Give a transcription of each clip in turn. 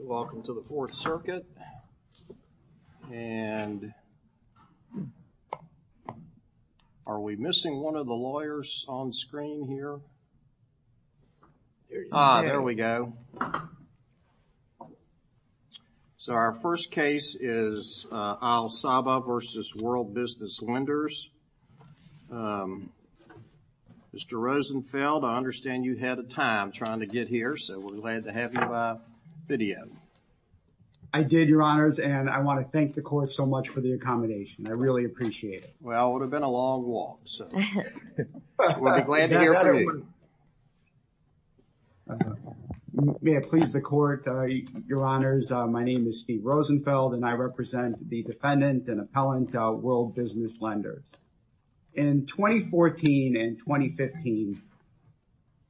Welcome to the Fourth Circuit and are we missing one of the lawyers on screen here? There we go. So our first case is Al-Sabah v. World Business Lenders. Mr. Rosenfeld, I understand you had a time trying to get here so we're glad to have you bid in. I did, Your Honors, and I want to thank the court so much for the accommodation. I really appreciate it. Well, it would have been a long walk, so we'll be glad to hear from you. May it please the court, Your Honors, my name is Steve Rosenfeld and I represent the defendant and appellant World Business Lenders. In 2014 and 2015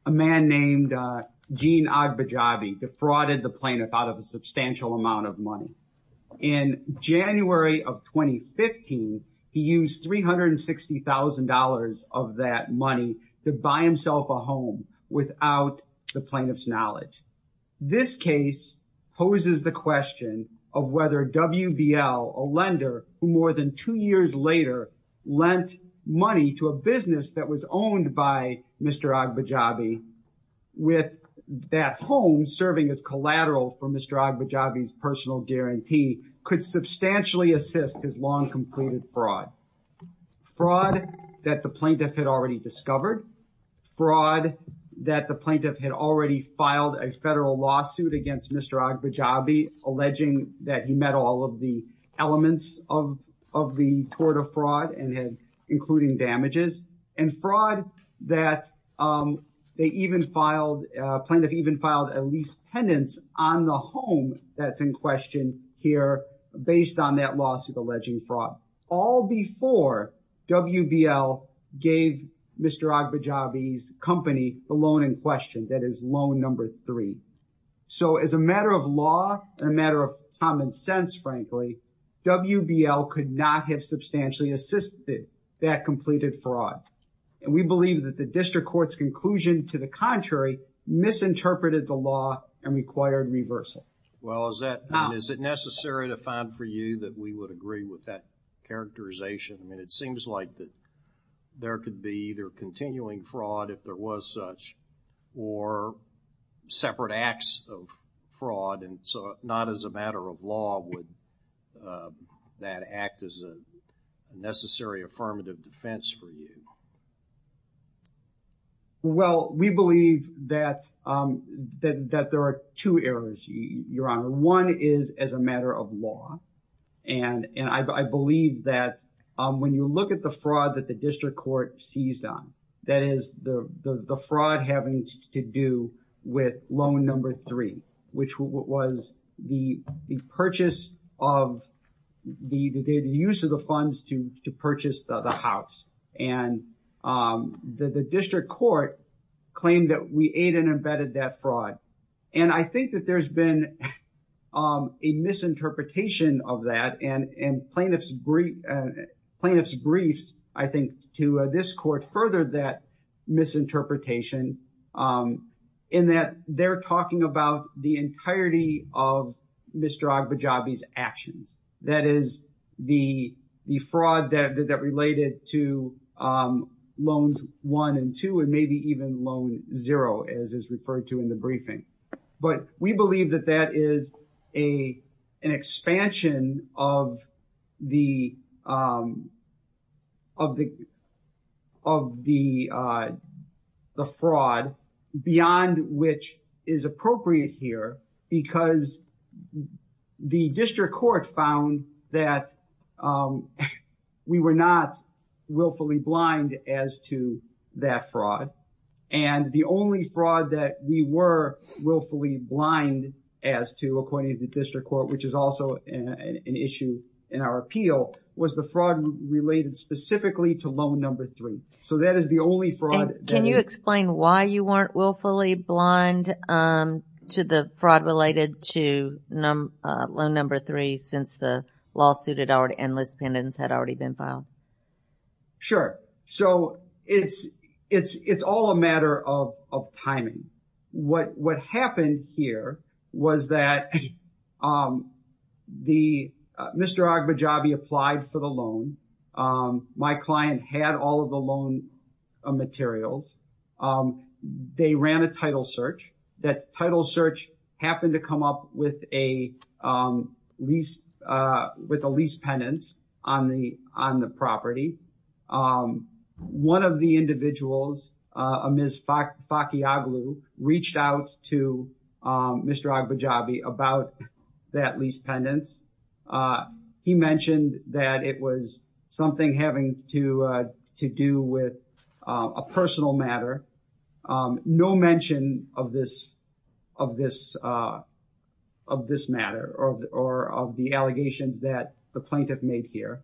a man named Gene Agbajabi defrauded the plaintiff out of a substantial amount of money. In January of 2015, he used $360,000 of that money to buy himself a home without the plaintiff's knowledge. This case poses the question of whether WBL, a lender, who more than two years later lent money to a business that was owned by Mr. Agbajabi, with that home serving as collateral for Mr. Agbajabi's personal guarantee, could substantially assist his long-completed fraud. Fraud that the plaintiff had already discovered, fraud that the plaintiff had already filed a federal lawsuit against Mr. Agbajabi alleging that he met all of the elements of the tort of fraud, including damages, and fraud that the plaintiff even filed a lease penance on the home that's in question here based on that lawsuit alleging fraud. All before WBL gave Mr. Agbajabi's company the loan in question, that is loan number three. So as a matter of law and a matter of common sense, frankly, WBL could not have substantially assisted that completed fraud. And we believe that the district court's conclusion, to the contrary, misinterpreted the law and required reversal. Well is that, is it necessary to find for you that we would agree with that characterization? And it seems like that there could be either continuing fraud, if there was such, or separate acts of fraud and so not as a matter of law would that act as a necessary affirmative defense for you? Well, we believe that there are two errors, Your Honor. One is as a matter of law and I believe that when you look at the fraud that the district court seized on, that is the fraud having to do with loan number three, which was the purchase of, the use of the funds to purchase the house. And the district court claimed that we aid and embedded that fraud. And I think that there's been a misinterpretation of that and plaintiff's briefs, I think, to this court furthered that misinterpretation in that they're talking about the entirety of Mr. Agbajabi's actions. That is, the fraud that related to loans one and two and maybe even loan zero, as is referred to in the briefing. But we believe that that is a an expansion of the fraud beyond which is appropriate here because the district court found that we were not willfully blind as to that fraud. And the only fraud that we were willfully blind as to, according to the district court, which is also an issue in our appeal, was the fraud related specifically to loan number three. So, that is the only fraud. Can you explain why you weren't willfully blind to the fraud related to loan number three since the lawsuit and list pendants had already been filed? Sure. So, it's all a matter of timing. What happened here was that Mr. Agbajabi applied for the loan. My client had all of the loan materials. They ran a title search. That title search happened to come up with a lease pendant on the property. One of the individuals, a Ms. Fakiaglu, reached out to Mr. Agbajabi about that lease pendants. He mentioned that it was something having to do with a personal matter. No mention of this matter or of the that the plaintiff made here.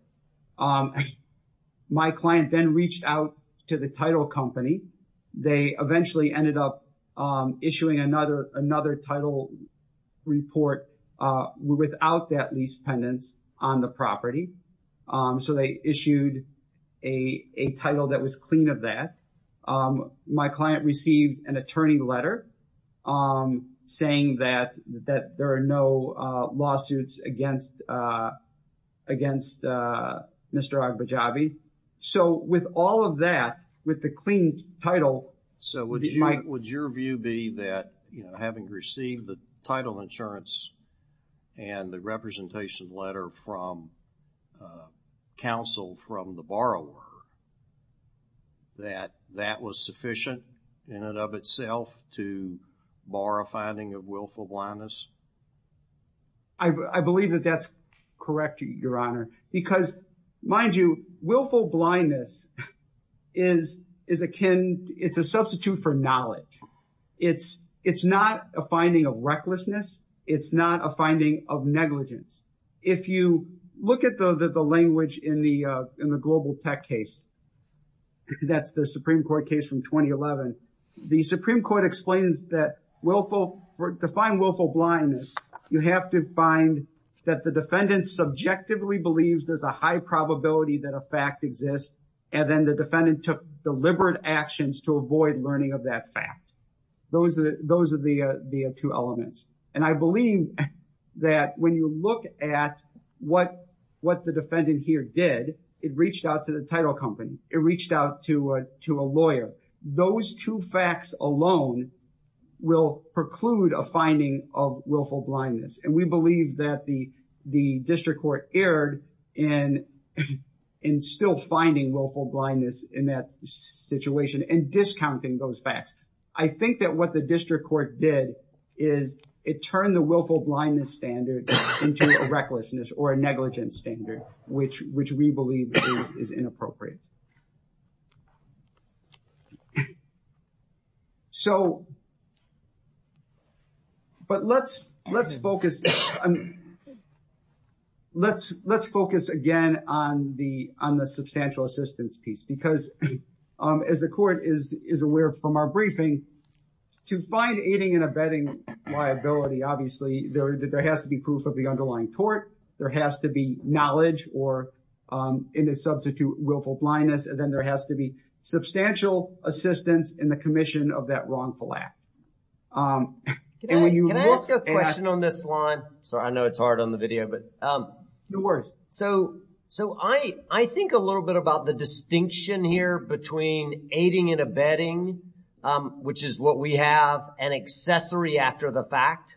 My client then reached out to the title company. They eventually ended up issuing another title report without that lease pendants on the property. So, they issued a title that was clean of that. My client received an attorney letter saying that that there are no lawsuits against Mr. Agbajabi. So, with all of that, with the clean title. So, would your view be that, you know, having received the title insurance and the representation letter from counsel from the borrower, that that was sufficient in and of itself to bar a finding of willful blindness? I believe that that's correct, Your Honor, because, mind you, willful blindness is akin, it's a substitute for knowledge. It's not a finding of recklessness. It's not a finding of negligence. If you look at the language in the global tech case, that's the Supreme Court case from 2011, the Supreme Court explains that willful, to find willful blindness, you have to find that the defendant subjectively believes there's a high probability that a fact exists and then the defendant took deliberate actions to avoid learning of that fact. Those are the two elements. And I believe that when you look at what the defendant here did, it reached out to the title company, it reached out to a lawyer. Those two facts alone will preclude a finding of willful blindness. And we believe that the district court erred in still finding willful blindness in that situation and discounting those facts. I think that what the district court did is it turned the willful blindness standard into a recklessness or a negligence standard, which we believe is inappropriate. So, but let's focus again on the substantial assistance piece, because as the court is aware from our briefing, to find aiding and abetting liability, obviously, there has to be proof of the underlying tort, there has to be knowledge or in a substitute willful blindness, and then there has to be substantial assistance in the commission of that wrongful act. Can I ask a question on this line? Sorry, I know it's hard on the video, but no worries. So, so I think a little bit about the distinction here between aiding and abetting, which is what we have, and accessory after the fact.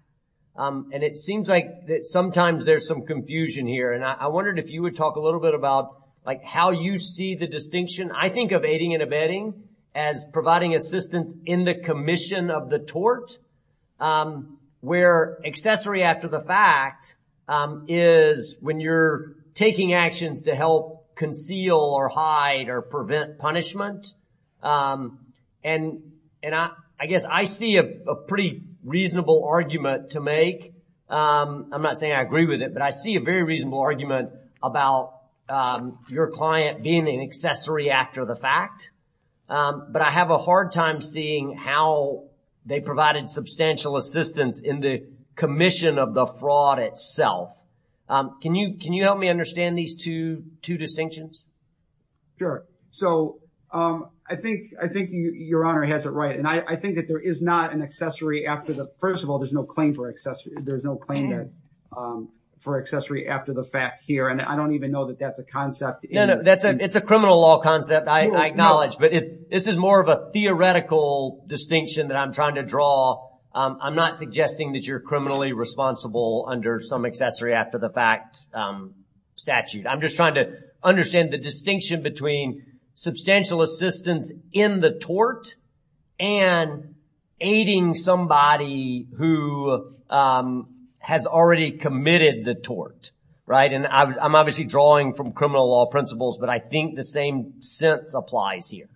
And it seems like that sometimes there's some confusion here, and I wondered if you would talk a little bit about, like, how you see the distinction. I think of aiding and abetting as providing assistance in the commission of the tort, where accessory after the fact is when you're taking actions to help conceal or hide or prevent punishment. And, and I guess I see a pretty reasonable argument to make. I'm not saying I agree with it, but I see a very reasonable argument about your client being an accessory after the fact, but I have a hard time seeing how they provided substantial assistance in the commission of the fraud itself. Can you, can you help me understand these two, two distinctions? Sure. So, I think, I think your Honor has it right, and I think that there is not an accessory after the, first of all, there's no claim for accessory, there's no claim for accessory after the fact here, and I don't even know that that's a concept. No, no, that's a, it's a criminal law concept, I acknowledge, but if this is more of a theoretical distinction that I'm trying to draw, I'm not suggesting that you're criminally responsible under some accessory after the fact statute. I'm just trying to understand the distinction between substantial assistance in the tort and aiding somebody who has already committed the tort, right? And I'm obviously drawing from criminal law principles, but I think the same sense applies here.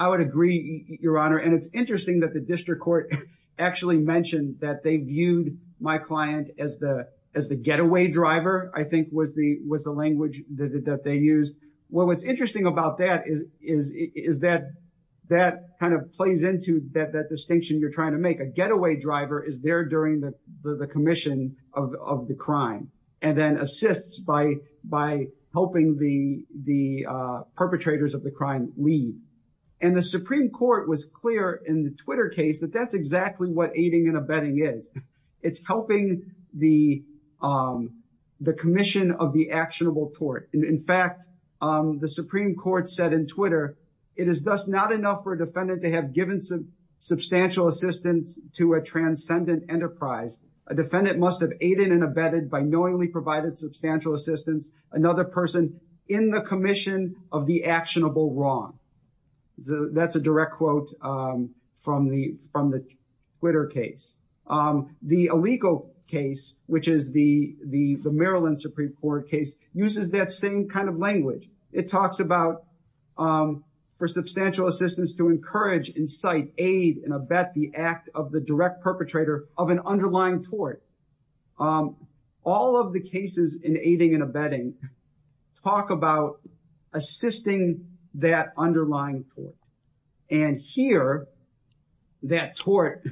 I would agree, your Honor, and it's interesting that the district court actually mentioned that they viewed my client as the, as the getaway driver, I think was the, was the language that they used. Well, what's interesting about that is, is, is that, that kind of plays into that, that distinction you're trying to make. A getaway driver is there during the, the commission of the crime, and then assists by, by helping the, the perpetrators of the crime leave. And the Supreme Court was clear in the Twitter case that that's exactly what aiding and abetting is. It's helping the, the commission of the actionable tort. In fact, the Supreme Court said in Twitter, it is thus not enough for a defendant to have given substantial assistance to a transcendent enterprise. A defendant must have aided and abetted by knowingly provided substantial assistance, another person in the commission of the actionable wrong. So that's a direct quote from the, from the Twitter case. The Alico case, which is the, the, the Maryland Supreme Court case, uses that same kind of language. It talks about for substantial assistance to encourage, incite, aid, and abet the act of the direct perpetrator of an underlying tort. All of the cases in aiding and abetting talk about assisting that underlying tort. And here, that tort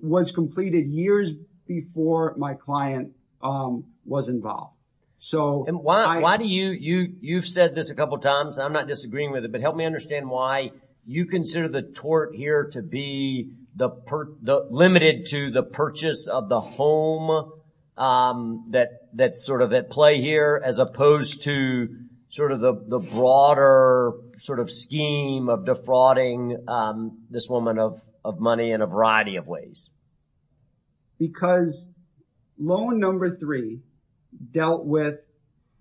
was completed years before my client was involved. So, I- And why, why do you, you, you've said this a couple of times, and I'm not disagreeing with it, but help me understand why you consider the tort here to be the per, the, limited to the purchase of the home that, that's sort of at play here, as opposed to sort of the, the broader sort of scheme of defrauding this woman of, of money in a variety of ways. Because loan number three dealt with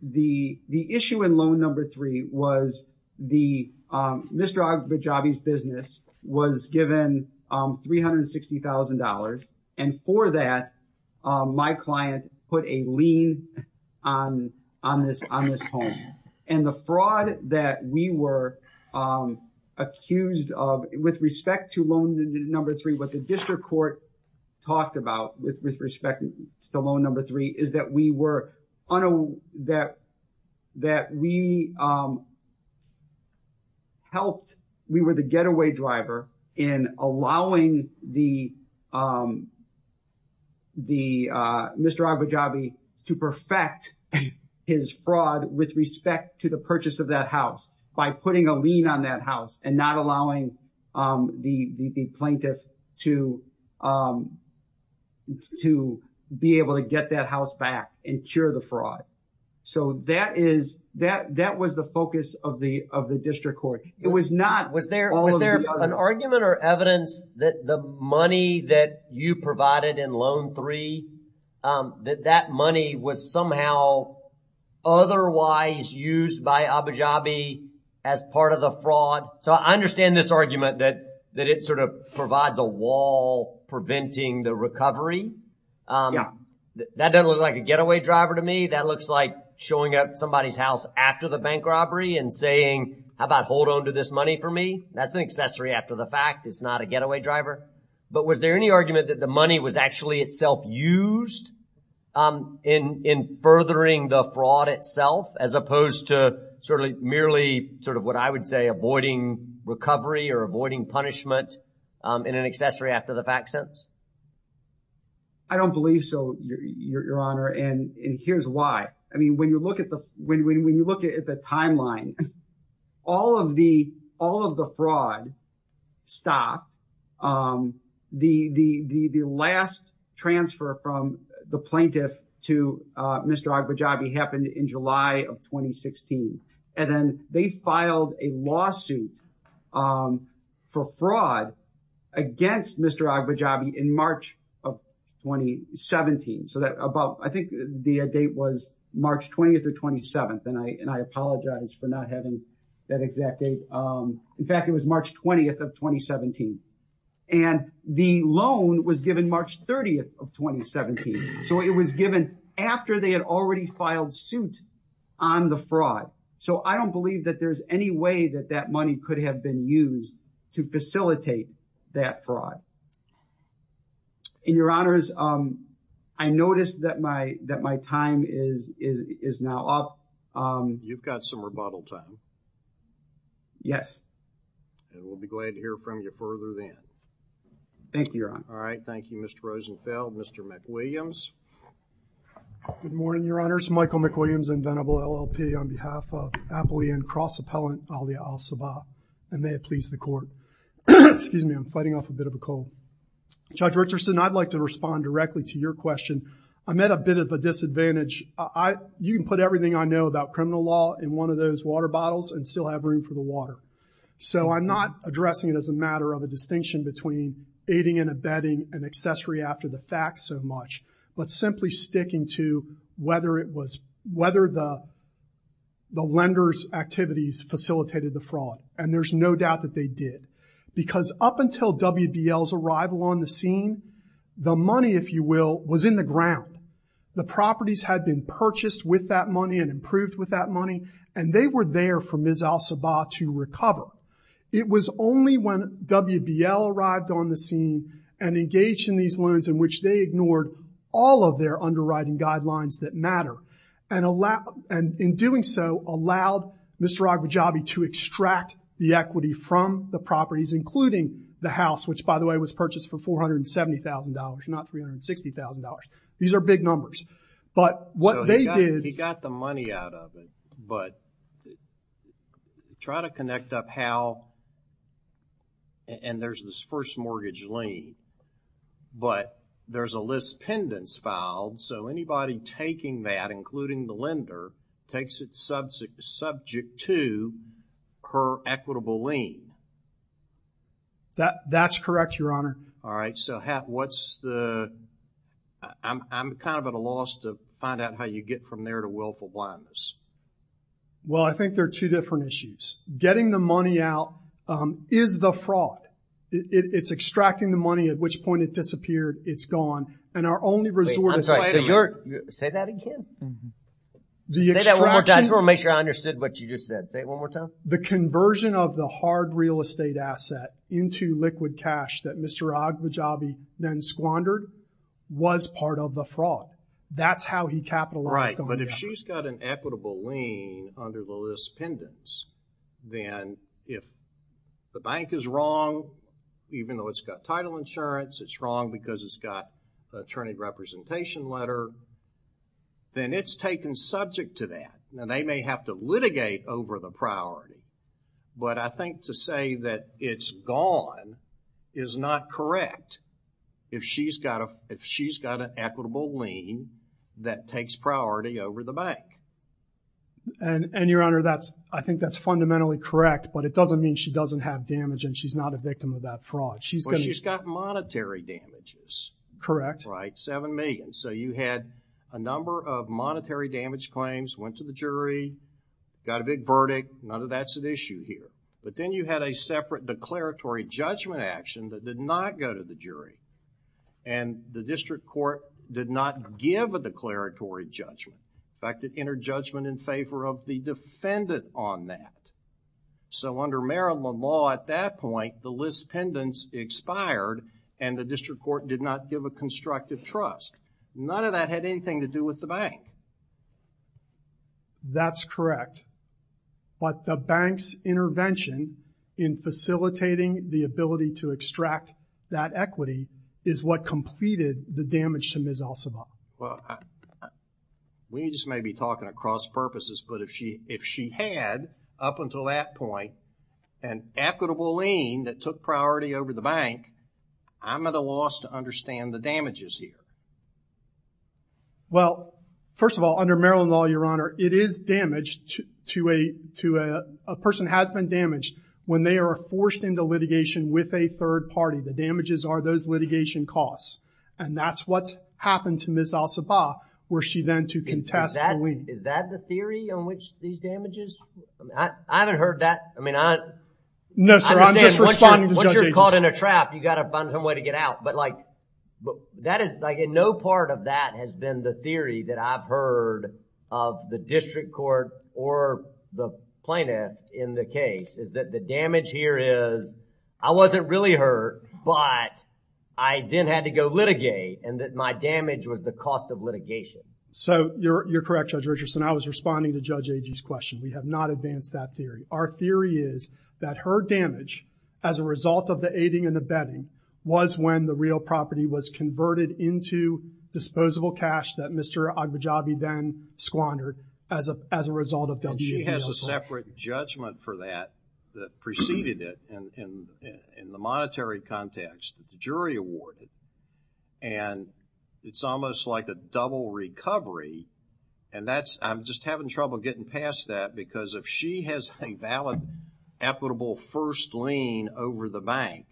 the, the issue in loan number three was the, Mr. Agbajabi's business was given $360,000, and for that, my client put a lien on, on this, on this home. And the fraud that we were accused of with respect to loan number three, what the district court talked about with, with respect to loan number three is that we were on a, that, that we helped, we were the getaway driver in allowing the, the Mr. Agbajabi to perfect his fraud with respect to the purchase of that house by putting a lien on that house and not allowing the, the plaintiff to, to be able to get that house back and cure the fraud. So that is, that, that was the focus of the, of the district court. It was not, was there an argument or evidence that the money that you provided in loan three, that that money was somehow otherwise used by Agbajabi as part of the So I understand this argument that, that it sort of provides a wall preventing the recovery. That doesn't look like a getaway driver to me. That looks like showing up somebody's house after the bank robbery and saying, how about hold on to this money for me? That's an accessory after the fact, it's not a getaway driver. But was there any argument that the money was actually itself used in, in furthering the fraud itself, as opposed to sort of merely sort of what I would say, avoiding recovery or avoiding punishment in an accessory after the fact sense? I don't believe so, your honor. And here's why. I mean, when you look at the, when, when you look at the timeline, all of the, all in July of 2016, and then they filed a lawsuit for fraud against Mr. Agbajabi in March of 2017. So that about, I think the date was March 20th or 27th. And I, and I apologize for not having that exact date. In fact, it was March 20th of 2017. And the loan was given March 30th of 2017. So it was given after they had already filed suit on the fraud. So I don't believe that there's any way that that money could have been used to facilitate that fraud. And your honors, um, I noticed that my, that my time is, is, is now up. Um, you've got some rebuttal time. Yes. And we'll be glad to hear from you further then. Thank you, your honor. All right. Thank you, Mr. Rosenfeld. Mr. McWilliams. Good morning, your honors. Michael McWilliams, Inventable LLP on behalf of Appalachian Cross Appellant, alia al-Sabah. And may it please the court. Excuse me. I'm fighting off a bit of a cold. Judge Richardson, I'd like to respond directly to your question. I'm at a bit of a disadvantage. I, you can put everything I know about criminal law in one of those water bottles and still have room for the water. So I'm not addressing it as a matter of a distinction between aiding and abetting an accessory after the fact so much, but simply sticking to whether it was, whether the, the lender's activities facilitated the fraud. And there's no doubt that they did because up until WBL's arrival on the scene, the money, if you will, was in the ground, the properties had been purchased with that money and improved with that money, and they were there for Ms. al-Sabah to recover. It was only when WBL arrived on the scene and engaged in these loans in which they ignored all of their underwriting guidelines that matter and allow, and in doing so allowed Mr. al-Bujabi to extract the equity from the properties, including the house, which by the way, was purchased for $470,000, not $360,000. These are big numbers, but what they did. He got the money out of it, but try to connect up how, and there's this first mortgage lien, but there's a list pendants filed. So anybody taking that, including the lender, takes it subject to per equitable lien. That that's correct, Your Honor. All right. So what's the, I'm kind of at a loss to find out how you get from there to willful blindness. Well, I think there are two different issues. Getting the money out is the fraud. It's extracting the money, at which point it disappeared. It's gone. And our only resort is. Wait, I'm sorry, so you're, say that again. Say that one more time. I just want to make sure I understood what you just said. Say it one more time. The conversion of the hard real estate asset into liquid cash that Mr. al-Bujabi then squandered was part of the fraud. That's how he capitalized on it. But if she's got an equitable lien under the list pendants, then if the bank is wrong, even though it's got title insurance, it's wrong because it's got an attorney representation letter, then it's taken subject to that. Now they may have to litigate over the priority, but I think to say that it's gone is not correct if she's got a, if she's got an equitable lien that takes priority over the bank. And, and your Honor, that's, I think that's fundamentally correct, but it doesn't mean she doesn't have damage and she's not a victim of that fraud. She's going to. She's got monetary damages. Correct. Right. Seven million. So you had a number of monetary damage claims, went to the jury, got a big verdict, none of that's an issue here. But then you had a separate declaratory judgment action that did not go to the jury and the district court did not give a declaratory judgment. In fact, it entered judgment in favor of the defendant on that. So under Maryland law at that point, the list pendants expired and the district court did not give a constructive trust. None of that had anything to do with the bank. That's correct. But the bank's intervention in facilitating the ability to extract that equity is what completed the damage to Ms. Alcivar. Well, we just may be talking across purposes, but if she, if she had up until that point, an equitable lien that took priority over the bank, I'm at a loss to understand the damages here. Well, first of all, under Maryland law, your Honor, it is damaged to a, to a person has been damaged when they are forced into litigation with a third party, the damages are those litigation costs. And that's what's happened to Ms. Alcivar where she then to contest the lien. Is that the theory on which these damages, I mean, I haven't heard that. I mean, I understand what you're caught in a trap. You got to find some way to get out. But like, that is like in no part of that has been the theory that I've heard of the district court or the plaintiff in the case is that the damage here is, I wasn't really hurt, but I didn't have to go litigate and that my damage was the cost of litigation. So you're, you're correct, Judge Richardson. I was responding to Judge Agee's question. We have not advanced that theory. Our theory is that her damage as a result of the aiding and abetting was when the real property was converted into disposable cash that Mr. Agbajabi then squandered as a, as a result of. And she has a separate judgment for that, that preceded it and in the monetary context, the jury awarded, and it's almost like a double recovery. And that's, I'm just having trouble getting past that because if she has a valid equitable first lien over the bank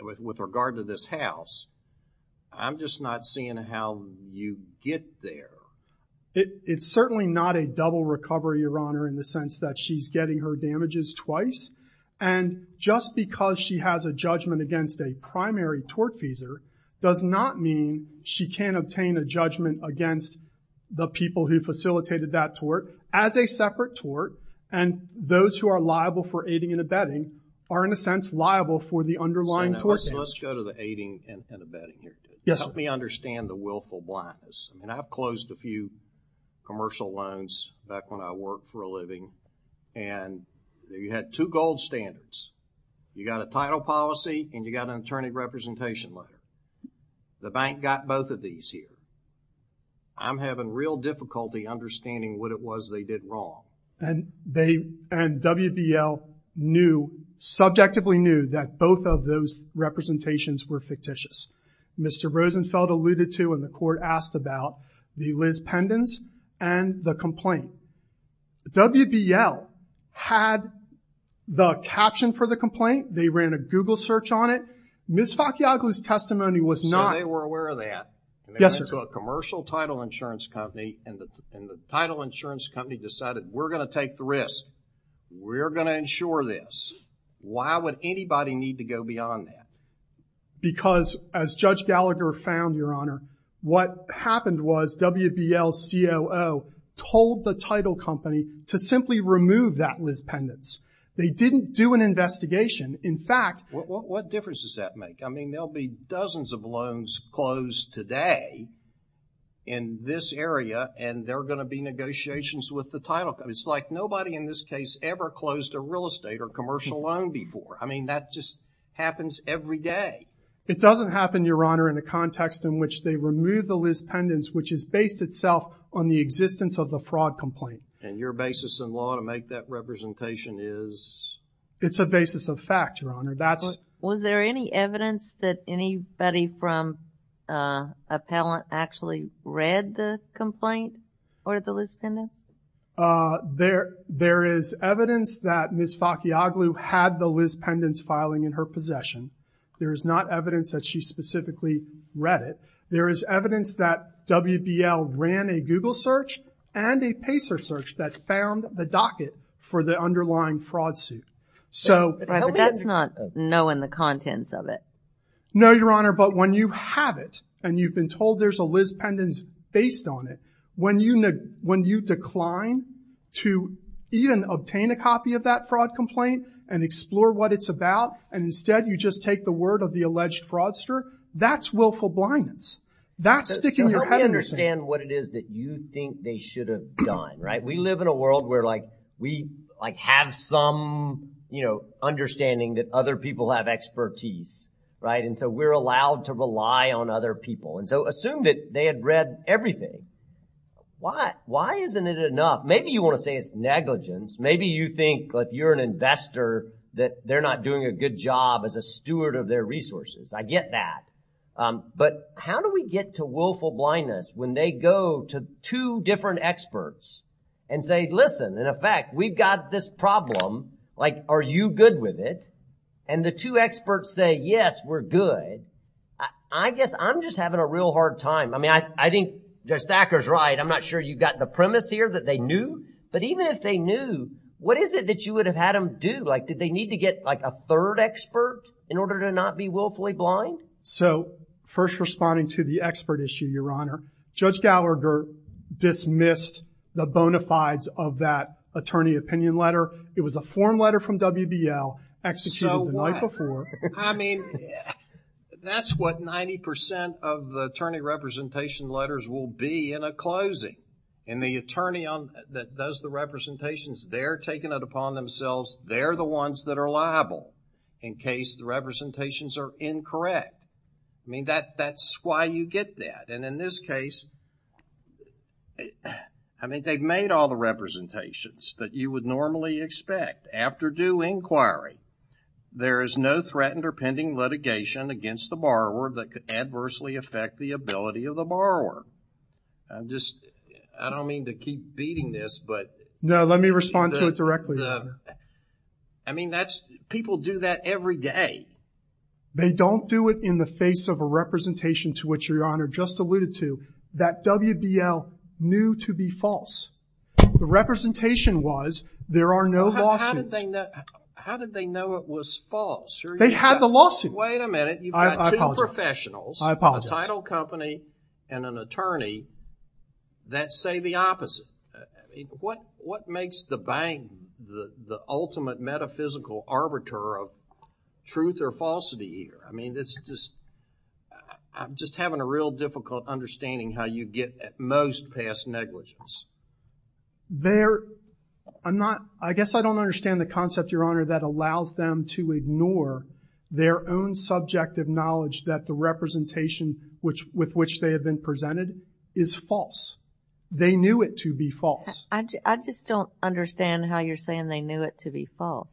with, with regard to this house, I'm just not seeing how you get there. It, it's certainly not a double recovery, Your Honor, in the sense that she's getting her damages twice. And just because she has a judgment against a primary tortfeasor does not mean she can't obtain a judgment against the people who facilitated that tort as a separate tort. And those who are liable for aiding and abetting are in a sense liable for the underlying tort damage. So let's go to the aiding and abetting here. Yes. Help me understand the willful blindness. I mean, I've closed a few commercial loans back when I worked for a living. And you had two gold standards. You got a title policy and you got an attorney representation loan. The bank got both of these here. I'm having real difficulty understanding what it was they did wrong. And they, and WBL knew, subjectively knew that both of those representations were fictitious. Mr. Rosenfeld alluded to when the court asked about the Liz Pendens and the complaint. WBL had the caption for the complaint. They ran a Google search on it. Ms. Faccioglu's testimony was not. So they were aware of that. Yes, sir. And they went to a commercial title insurance company and the, and the title insurance company decided we're going to take the risk. We're going to insure this. Why would anybody need to go beyond that? Because as judge Gallagher found your honor, what happened was WBL COO told the title company to simply remove that Liz Pendens. They didn't do an investigation. In fact, what difference does that make? I mean, there'll be dozens of loans closed today in this area, and they're going to be negotiations with the title. It's like nobody in this case ever closed a real estate or commercial loan before. I mean, that just happens every day. It doesn't happen, your honor, in a context in which they remove the Liz Pendens, which is based itself on the existence of the fraud complaint. And your basis in law to make that representation is? It's a basis of fact, your honor. That's. Was there any evidence that anybody from, uh, appellant actually read the complaint or the Liz Pendens? Uh, there, there is evidence that Ms. Fakiaglu had the Liz Pendens filing in her possession. There is not evidence that she specifically read it. There is evidence that WBL ran a Google search and a Pacer search that found the docket for the underlying fraud suit. So that's not knowing the contents of it. No, your honor. But when you have it and you've been told there's a Liz Pendens based on it, when you, when you decline to even obtain a copy of that fraud complaint and explore what it's about, and instead you just take the word of the alleged fraudster, that's willful blindness. That's sticking your head in the sand. What it is that you think they should have done, right? We live in a world where like, we like have some, you know, understanding that other people have expertise, right? And so we're allowed to rely on other people. And so assume that they had read everything. Why? Why isn't it enough? Maybe you want to say it's negligence. Maybe you think that you're an investor, that they're not doing a good job as a steward of their resources. I get that. But how do we get to willful blindness when they go to two different experts and say, listen, in effect, we've got this problem, like, are you good with it? And the two experts say, yes, we're good. I guess I'm just having a real hard time. I mean, I think Judge Thacker's right. I'm not sure you've got the premise here that they knew, but even if they knew, what is it that you would have had them do? Like, did they need to get like a third expert in order to not be willfully blind? So first responding to the expert issue, Your Honor, Judge Gallagher dismissed the bona fides of that attorney opinion letter. It was a form letter from WBL executed the night before. I mean, that's what 90% of the attorney representation letters will be in a closing and the attorney that does the representations, they're taking it upon themselves, they're the ones that are liable in case the representations are incorrect, I mean, that's why you get that. And in this case, I mean, they've made all the representations that you would normally expect after due inquiry, there is no threatened or pending litigation against the borrower that could adversely affect the ability of the borrower. I'm just, I don't mean to keep beating this, but. No, let me respond to it directly. I mean, that's, people do that every day. They don't do it in the face of a representation to which Your Honor just alluded to that WBL knew to be false. The representation was, there are no lawsuits. How did they know it was false? They had the lawsuit. Wait a minute, you've got two professionals, a title company and an attorney that say the opposite. What makes the bank the ultimate metaphysical arbiter of truth or falsity here? I mean, it's just, I'm just having a real difficult understanding how you get at most past negligence. They're, I'm not, I guess I don't understand the concept, Your Honor, that allows them to ignore their own subjective knowledge that the representation which, with which they have been presented is false. They knew it to be false. I just don't understand how you're saying they knew it to be false.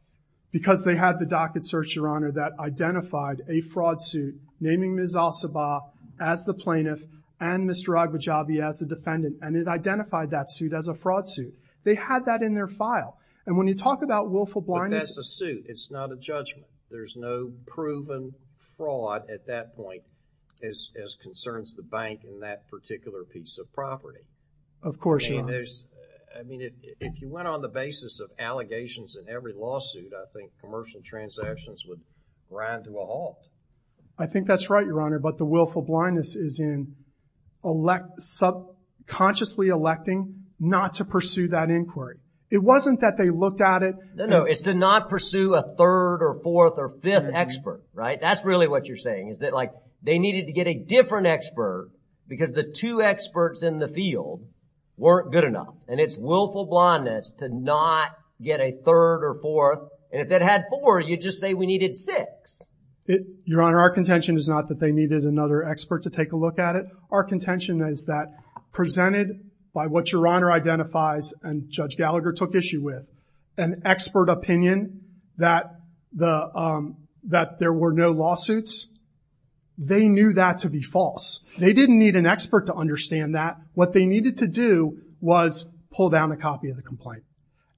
Because they had the docket search, Your Honor, that identified a fraud suit naming Ms. Al-Sabah as the plaintiff and Mr. Agbajabi as the defendant. And it identified that suit as a fraud suit. They had that in their file. And when you talk about willful blindness. But that's a suit. It's not a judgment. There's no proven fraud at that point as, as concerns the bank and that particular piece of property. Of course, Your Honor. And there's, I mean, if you went on the basis of allegations in every lawsuit, I think commercial transactions would grind to a halt. I think that's right, Your Honor. But the willful blindness is in elect, subconsciously electing not to pursue that inquiry. It wasn't that they looked at it. No, no. It's to not pursue a third or fourth or fifth expert, right? That's really what you're saying is that like they needed to get a different expert because the two experts in the field weren't good enough. And it's willful blindness to not get a third or fourth. And if it had four, you just say we needed six. Your Honor, our contention is not that they needed another expert to take a look at it. Our contention is that presented by what Your Honor identifies and Judge Gallagher took issue with, an expert opinion that the, um, that there were no lawsuits. They knew that to be false. They didn't need an expert to understand that. What they needed to do was pull down a copy of the complaint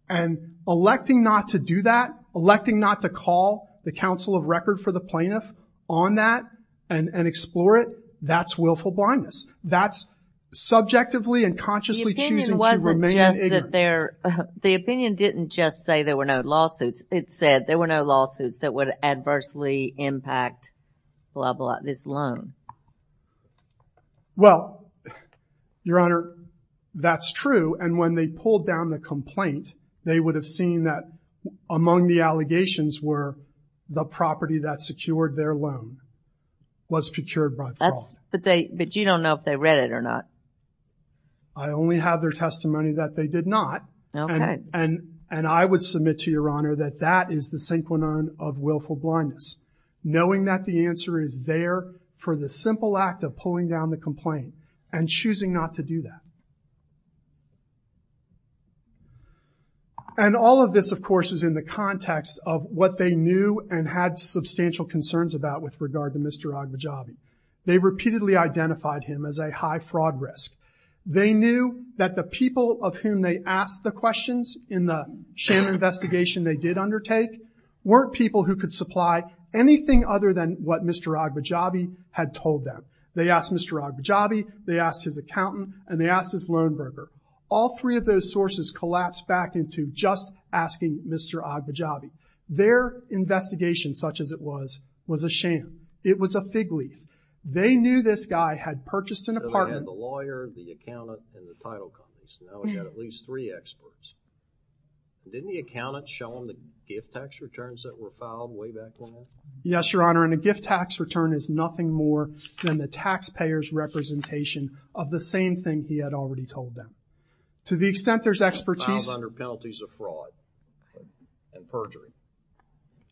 and electing not to do that, electing not to call the counsel of record for the plaintiff on that and explore it. That's willful blindness. That's subjectively and consciously choosing to remain ignorant. The opinion didn't just say there were no lawsuits. It said there were no lawsuits that would adversely impact blah, blah, this loan. Well, Your Honor, that's true. And when they pulled down the complaint, they would have seen that among the allegations were the property that secured their loan was procured by fraud. But they, but you don't know if they read it or not. I only have their testimony that they did not. And I would submit to Your Honor that that is the synchronon of willful blindness. Knowing that the answer is there for the simple act of pulling down the complaint and choosing not to do that. And all of this, of course, is in the context of what they knew and had substantial concerns about with regard to Mr. Agbajabi. They repeatedly identified him as a high fraud risk. They knew that the people of whom they asked the questions in the sham investigation they did undertake weren't people who could supply anything other than what Mr. Agbajabi had told them. They asked Mr. Agbajabi, they asked his accountant, and they asked his loan broker. All three of those sources collapsed back into just asking Mr. Agbajabi. Their investigation, such as it was, was a sham. It was a fig leaf. They knew this guy had purchased an apartment. They had the lawyer, the accountant, and the title companies. Now we've got at least three experts. Didn't the accountant show them the gift tax returns that were filed way back then? Yes, Your Honor. And a gift tax return is nothing more than the taxpayer's representation of the same thing he had already told them. To the extent there's expertise. Found under penalties of fraud and perjury.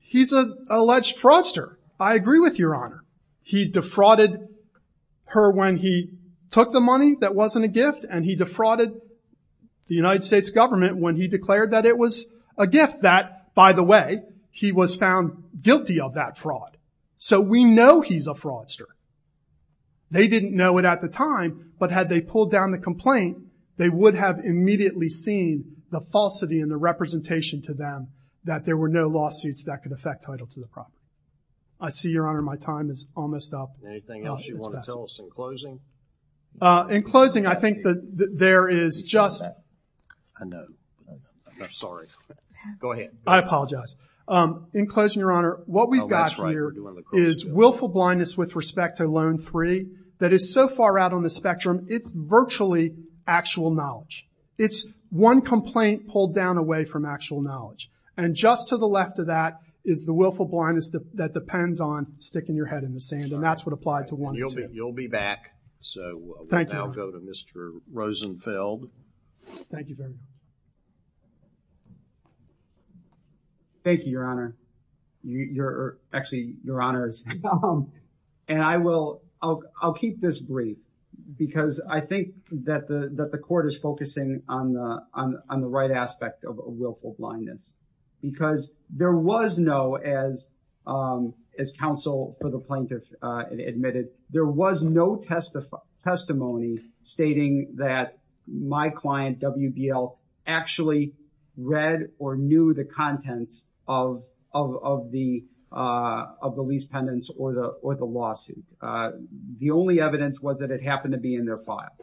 He's an alleged fraudster. I agree with Your Honor. He defrauded her when he took the money that wasn't a gift and he defrauded the United States government when he declared that it was a gift that, by the way, he was found guilty of that fraud. So we know he's a fraudster. They didn't know it at the time, but had they pulled down the complaint, they would have immediately seen the falsity and the representation to them that there were no lawsuits that could affect title to the property. I see, Your Honor, my time is almost up. Anything else you want to tell us in closing? Uh, in closing, I think that there is just. I know. I'm sorry. Go ahead. I apologize. Um, in closing, Your Honor, what we've got here is willful blindness with respect to Loan III that is so far out on the spectrum. It's virtually actual knowledge. It's one complaint pulled down away from actual knowledge. And just to the left of that is the willful blindness that depends on sticking your head in the sand and that's what applied to one. You'll be back. So I'll go to Mr. Rosenfeld. Thank you. Thank you, Your Honor. You're actually, Your Honor, and I will, I'll, I'll keep this brief because I think that the, that the court is focusing on the, on, on the right aspect of a willful blindness, because there was no, as, um, as counsel for the plaintiff, uh, admitted, there was no test of testimony stating that my client WBL actually read or knew the contents of, of, of the, uh, of the lease pendants or the, or the lawsuit. Uh, the only evidence was that it happened to be in their file.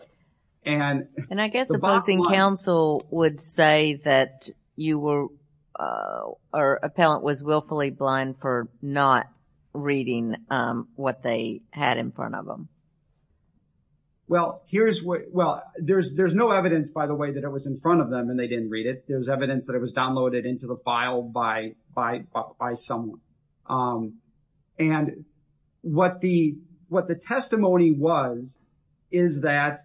And, and I guess the opposing counsel would say that you were, uh, or appellant was willfully blind for not reading, um, what they had in front of them. Well, here's what, well, there's, there's no evidence by the way that it was in front of them and they didn't read it. There was evidence that it was downloaded into the file by, by, by someone. Um, and what the, what the testimony was is that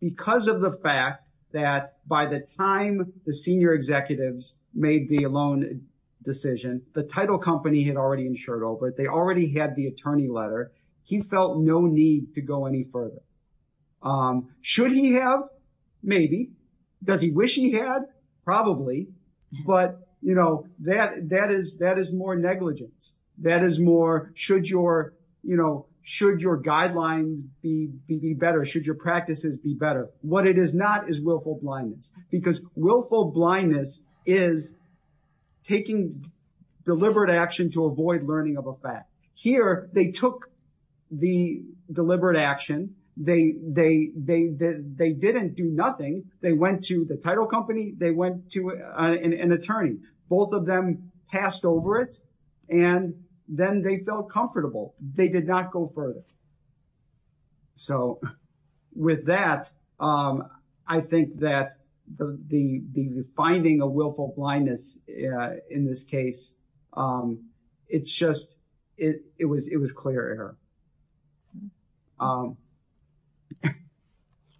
because of the fact that by the time the senior executives made the loan decision, the title company had already insured over it. They already had the attorney letter. He felt no need to go any further. Um, should he have? Maybe. Does he wish he had? Probably, but you know, that, that is, that is more negligence. That is more, should your, you know, should your guideline be better? Should your practices be better? What it is not is willful blindness because willful blindness is taking deliberate action to avoid learning of a fact. Here, they took the deliberate action. They, they, they, they didn't do nothing. They went to the title company. They went to an attorney. Both of them passed over it and then they felt comfortable. They did not go further. So with that, um, I think that the, the, the finding of willful blindness, uh, in this case, um, it's just, it, it was, it was clear error. Um,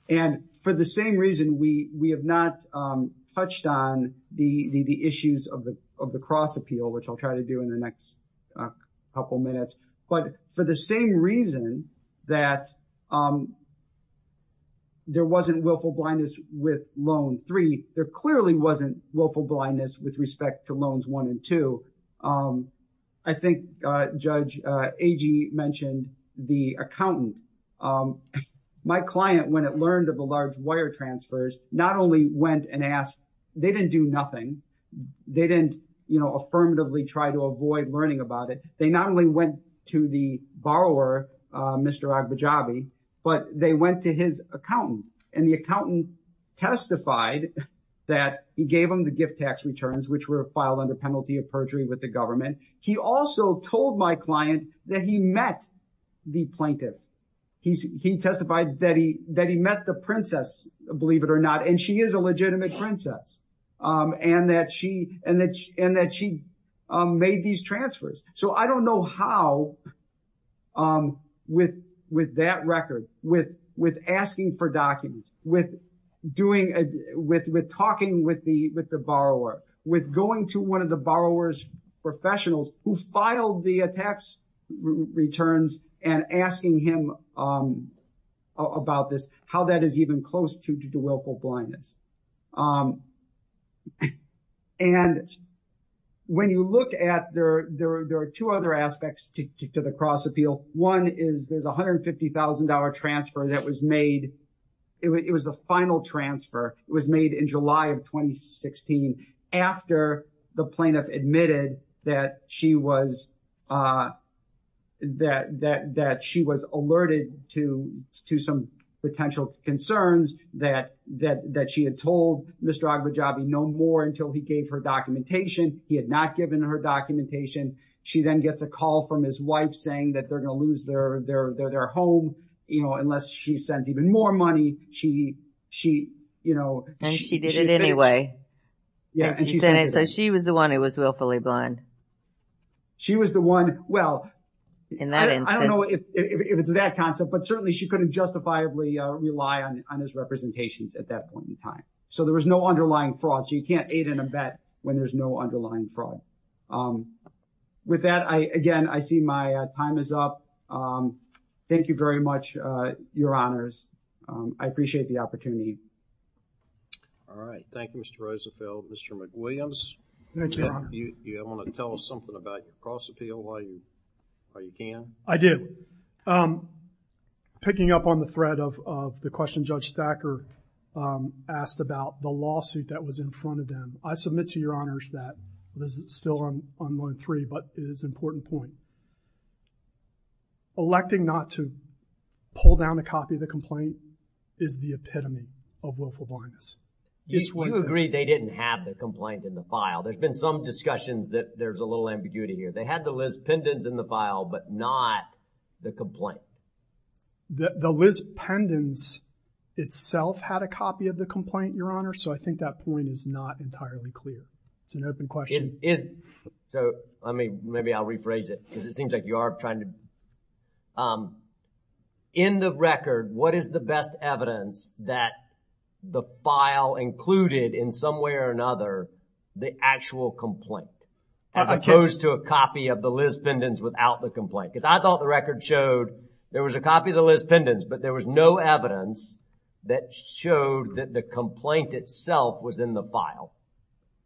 and for the same reason, we, we have not, um, touched on the, the, the issues of the, of the cross appeal, which I'll try to do in the next couple of minutes. But for the same reason that, um, there wasn't willful blindness with loan three, there clearly wasn't willful blindness with respect to loans one and two. Um, I think, uh, judge, uh, AG mentioned the accountant, um, my client, when it learned of the large wire transfers, not only went and asked, they didn't do nothing, they didn't, you know, affirmatively try to avoid learning about it. They not only went to the borrower, uh, Mr. Agbajabi, but they went to his accountant and the accountant testified that he gave him the gift tax returns, which were filed under penalty of perjury with the government. He also told my client that he met the plaintiff. He's, he testified that he, that he met the princess, believe it or not. And she is a legitimate princess. Um, and that she, and that, and that she, um, made these transfers. So I don't know how, um, with, with that record, with, with asking for documents, with doing, uh, with, with talking with the, with the borrower, with going to one of the borrower's professionals who filed the tax returns and asking him, um, about this, how that is even close to, to do willful blindness. Um, and when you look at there, there, there are two other aspects to the cross appeal. One is there's $150,000 transfer that was made. It was the final transfer. It was made in July of 2016 after the plaintiff admitted that she was, uh, that, that, that she was alerted to, to some potential concerns that, that, that she had told Mr. Agbajabi no more until he gave her documentation. He had not given her documentation. She then gets a call from his wife saying that they're going to lose their, their, their, their home, you know, unless she sends even more money. She, she, you know, she did it anyway. Yeah. So she was the one who was willfully blind. She was the one, well, I don't know if it's that concept, but certainly she couldn't justifiably rely on, on his representations at that point in time. So there was no underlying fraud. So you can't aid in a bet when there's no underlying fraud. Um, with that, I, again, I see my time is up. Um, thank you very much, uh, your honors. Um, I appreciate the opportunity. All right. Thank you, Mr. Roosevelt. Mr. McWilliams, do you want to tell us something about your cross appeal while you, while you can? I do. Um, picking up on the thread of, of the question Judge Thacker, um, asked about the lawsuit that was in front of them. I submit to your honors that this is still on, on line three, but it is important point, electing not to pull down a copy of the complaint is the epitome of willful blindness. You agree they didn't have the complaint in the file. There's been some discussions that there's a little ambiguity here. They had the Liz Pendens in the file, but not the complaint. The Liz Pendens itself had a copy of the complaint, your honor. So I think that point is not entirely clear. It's an open question. It is. So, I mean, maybe I'll rephrase it because it seems like you are trying to, um, in the record, what is the best evidence that the file included in some way or another, the actual complaint, as opposed to a copy of the Liz Pendens without the complaint, because I thought the record showed there was a copy of the Liz Pendens, but there was no evidence that showed that the complaint itself was in the file.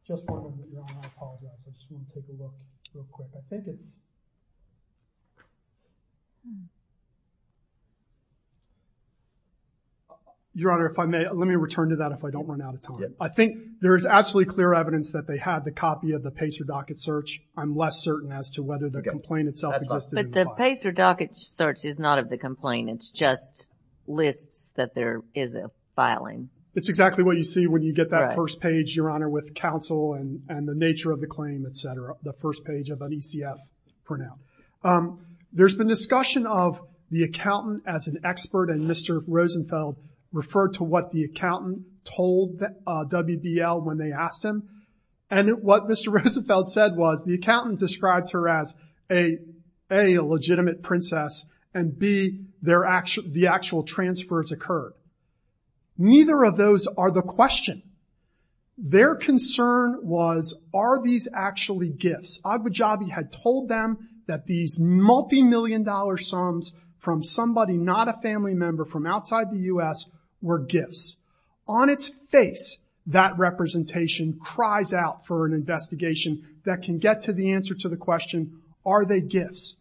Just one moment, your honor. I apologize. I just want to take a look real quick. I think it's. Your honor, if I may, let me return to that if I don't run out of time. I think there is absolutely clear evidence that they had the copy of the Pacer docket search. I'm less certain as to whether the complaint itself existed in the file. But the Pacer docket search is not of the complaint. It's just lists that there is a filing. It's exactly what you see when you get that first page, your honor, with counsel and the nature of the claim, et cetera. The first page of an ECF printout. Um, there's been discussion of the accountant as an expert and Mr. Rosenfeld referred to what the accountant told WBL when they asked him. And what Mr. Rosenfeld said was the accountant described her as a, a legitimate princess and be their actual, the actual transfers occurred. Neither of those are the question. Their concern was, are these actually gifts? Abu Jabi had told them that these multimillion dollar sums from somebody, not a family member from outside the U S were gifts on its face. That representation cries out for an investigation that can get to the answer to the question. Are they gifts?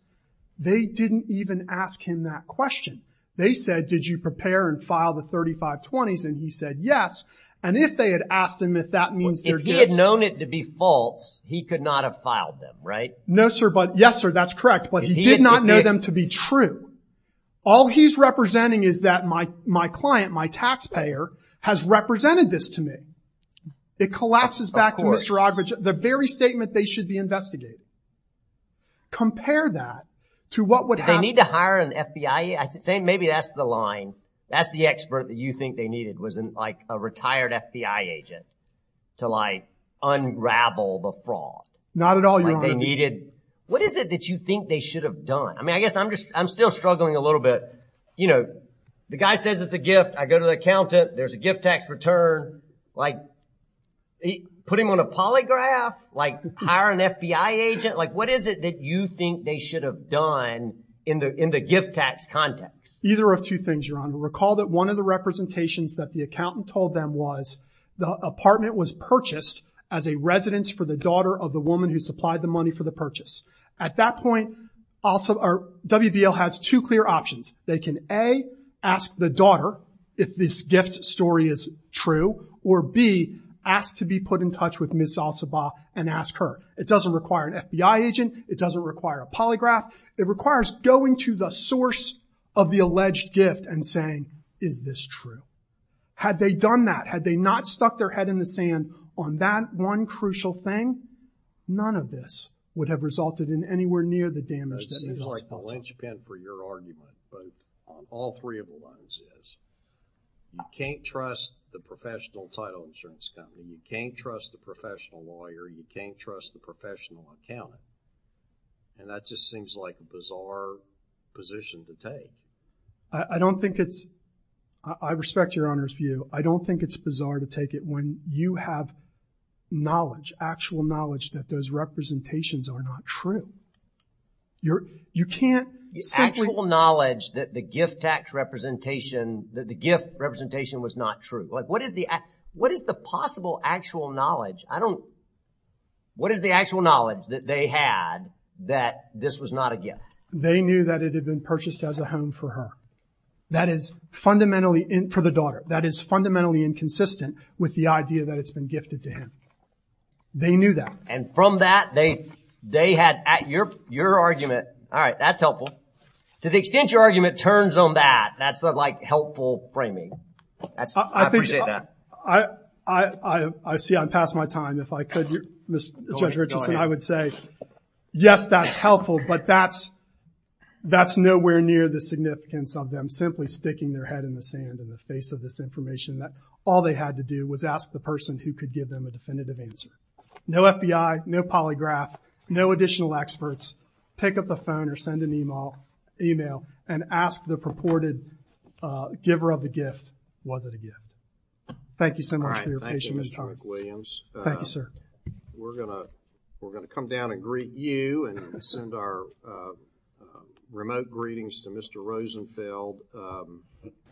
They didn't even ask him that question. They said, did you prepare and file the 35 twenties? And he said, yes. And if they had asked him if that means that he had known it to be false, he could not have filed them. Right? No, sir. But yes, sir, that's correct. But he did not know them to be true. All he's representing is that my, my client, my taxpayer has represented this to me. It collapses back to Mr. the very statement they should be investigating. Compare that to what would they need to hire an FBI? I'd say maybe that's the line. That's the expert that you think they needed was like a retired FBI agent to like unravel the fraud. Not at all. You don't need it. What is it that you think they should have done? I mean, I guess I'm just, I'm still struggling a little bit. You know, the guy says it's a gift. I go to the accountant, there's a gift tax return. Like put him on a polygraph, like hire an FBI agent. Like what is it that you think they should have done in the, in the gift tax context? Either of two things, Your Honor. Recall that one of the representations that the accountant told them was the apartment was purchased as a residence for the daughter of the woman who supplied the money for the purchase. At that point, WBL has two clear options. They can, A, ask the daughter if this gift story is true, or B, ask to be put in touch with Ms. Al-Sabah and ask her. It doesn't require an FBI agent. It doesn't require a polygraph. It requires going to the source of the alleged gift and saying, is this true? Had they done that, had they not stuck their head in the sand on that one crucial thing, none of this would have resulted in anywhere near the damage. It seems like the linchpin for your argument, but on all three of the lines is, you can't trust the professional title insurance company, you can't trust the professional lawyer, you can't trust the professional accountant, and that just seems like a bizarre position to take. I don't think it's, I respect Your Honor's view, I don't think it's bizarre to take it when you have knowledge, actual knowledge that those representations are not true. You're, you can't simply. The actual knowledge that the gift tax representation, that the gift representation was not true. Like, what is the, what is the possible actual knowledge? I don't, what is the actual knowledge that they had that this was not a gift? They knew that it had been purchased as a home for her. That is fundamentally, for the daughter, that is fundamentally inconsistent with the idea that it's been gifted to him. They knew that. And from that, they, they had at your, your argument. All right. That's helpful. To the extent your argument turns on that, that's like helpful framing. That's, I appreciate that. I, I, I, I see I'm past my time. If I could, Mr. Judge Richardson, I would say, yes, that's helpful, but that's, that's nowhere near the significance of them simply sticking their head in the sand in the face of this information that all they had to do was ask the person who could give them a definitive answer. No FBI, no polygraph, no additional experts. Pick up the phone or send an email, email and ask the purported, uh, giver of the gift. Was it a gift? Thank you so much for your patience, Mr. Williams. Thank you, sir. We're gonna, we're gonna come down and greet you and send our, uh, uh, remote greetings to Mr. Rosenfeld. Um,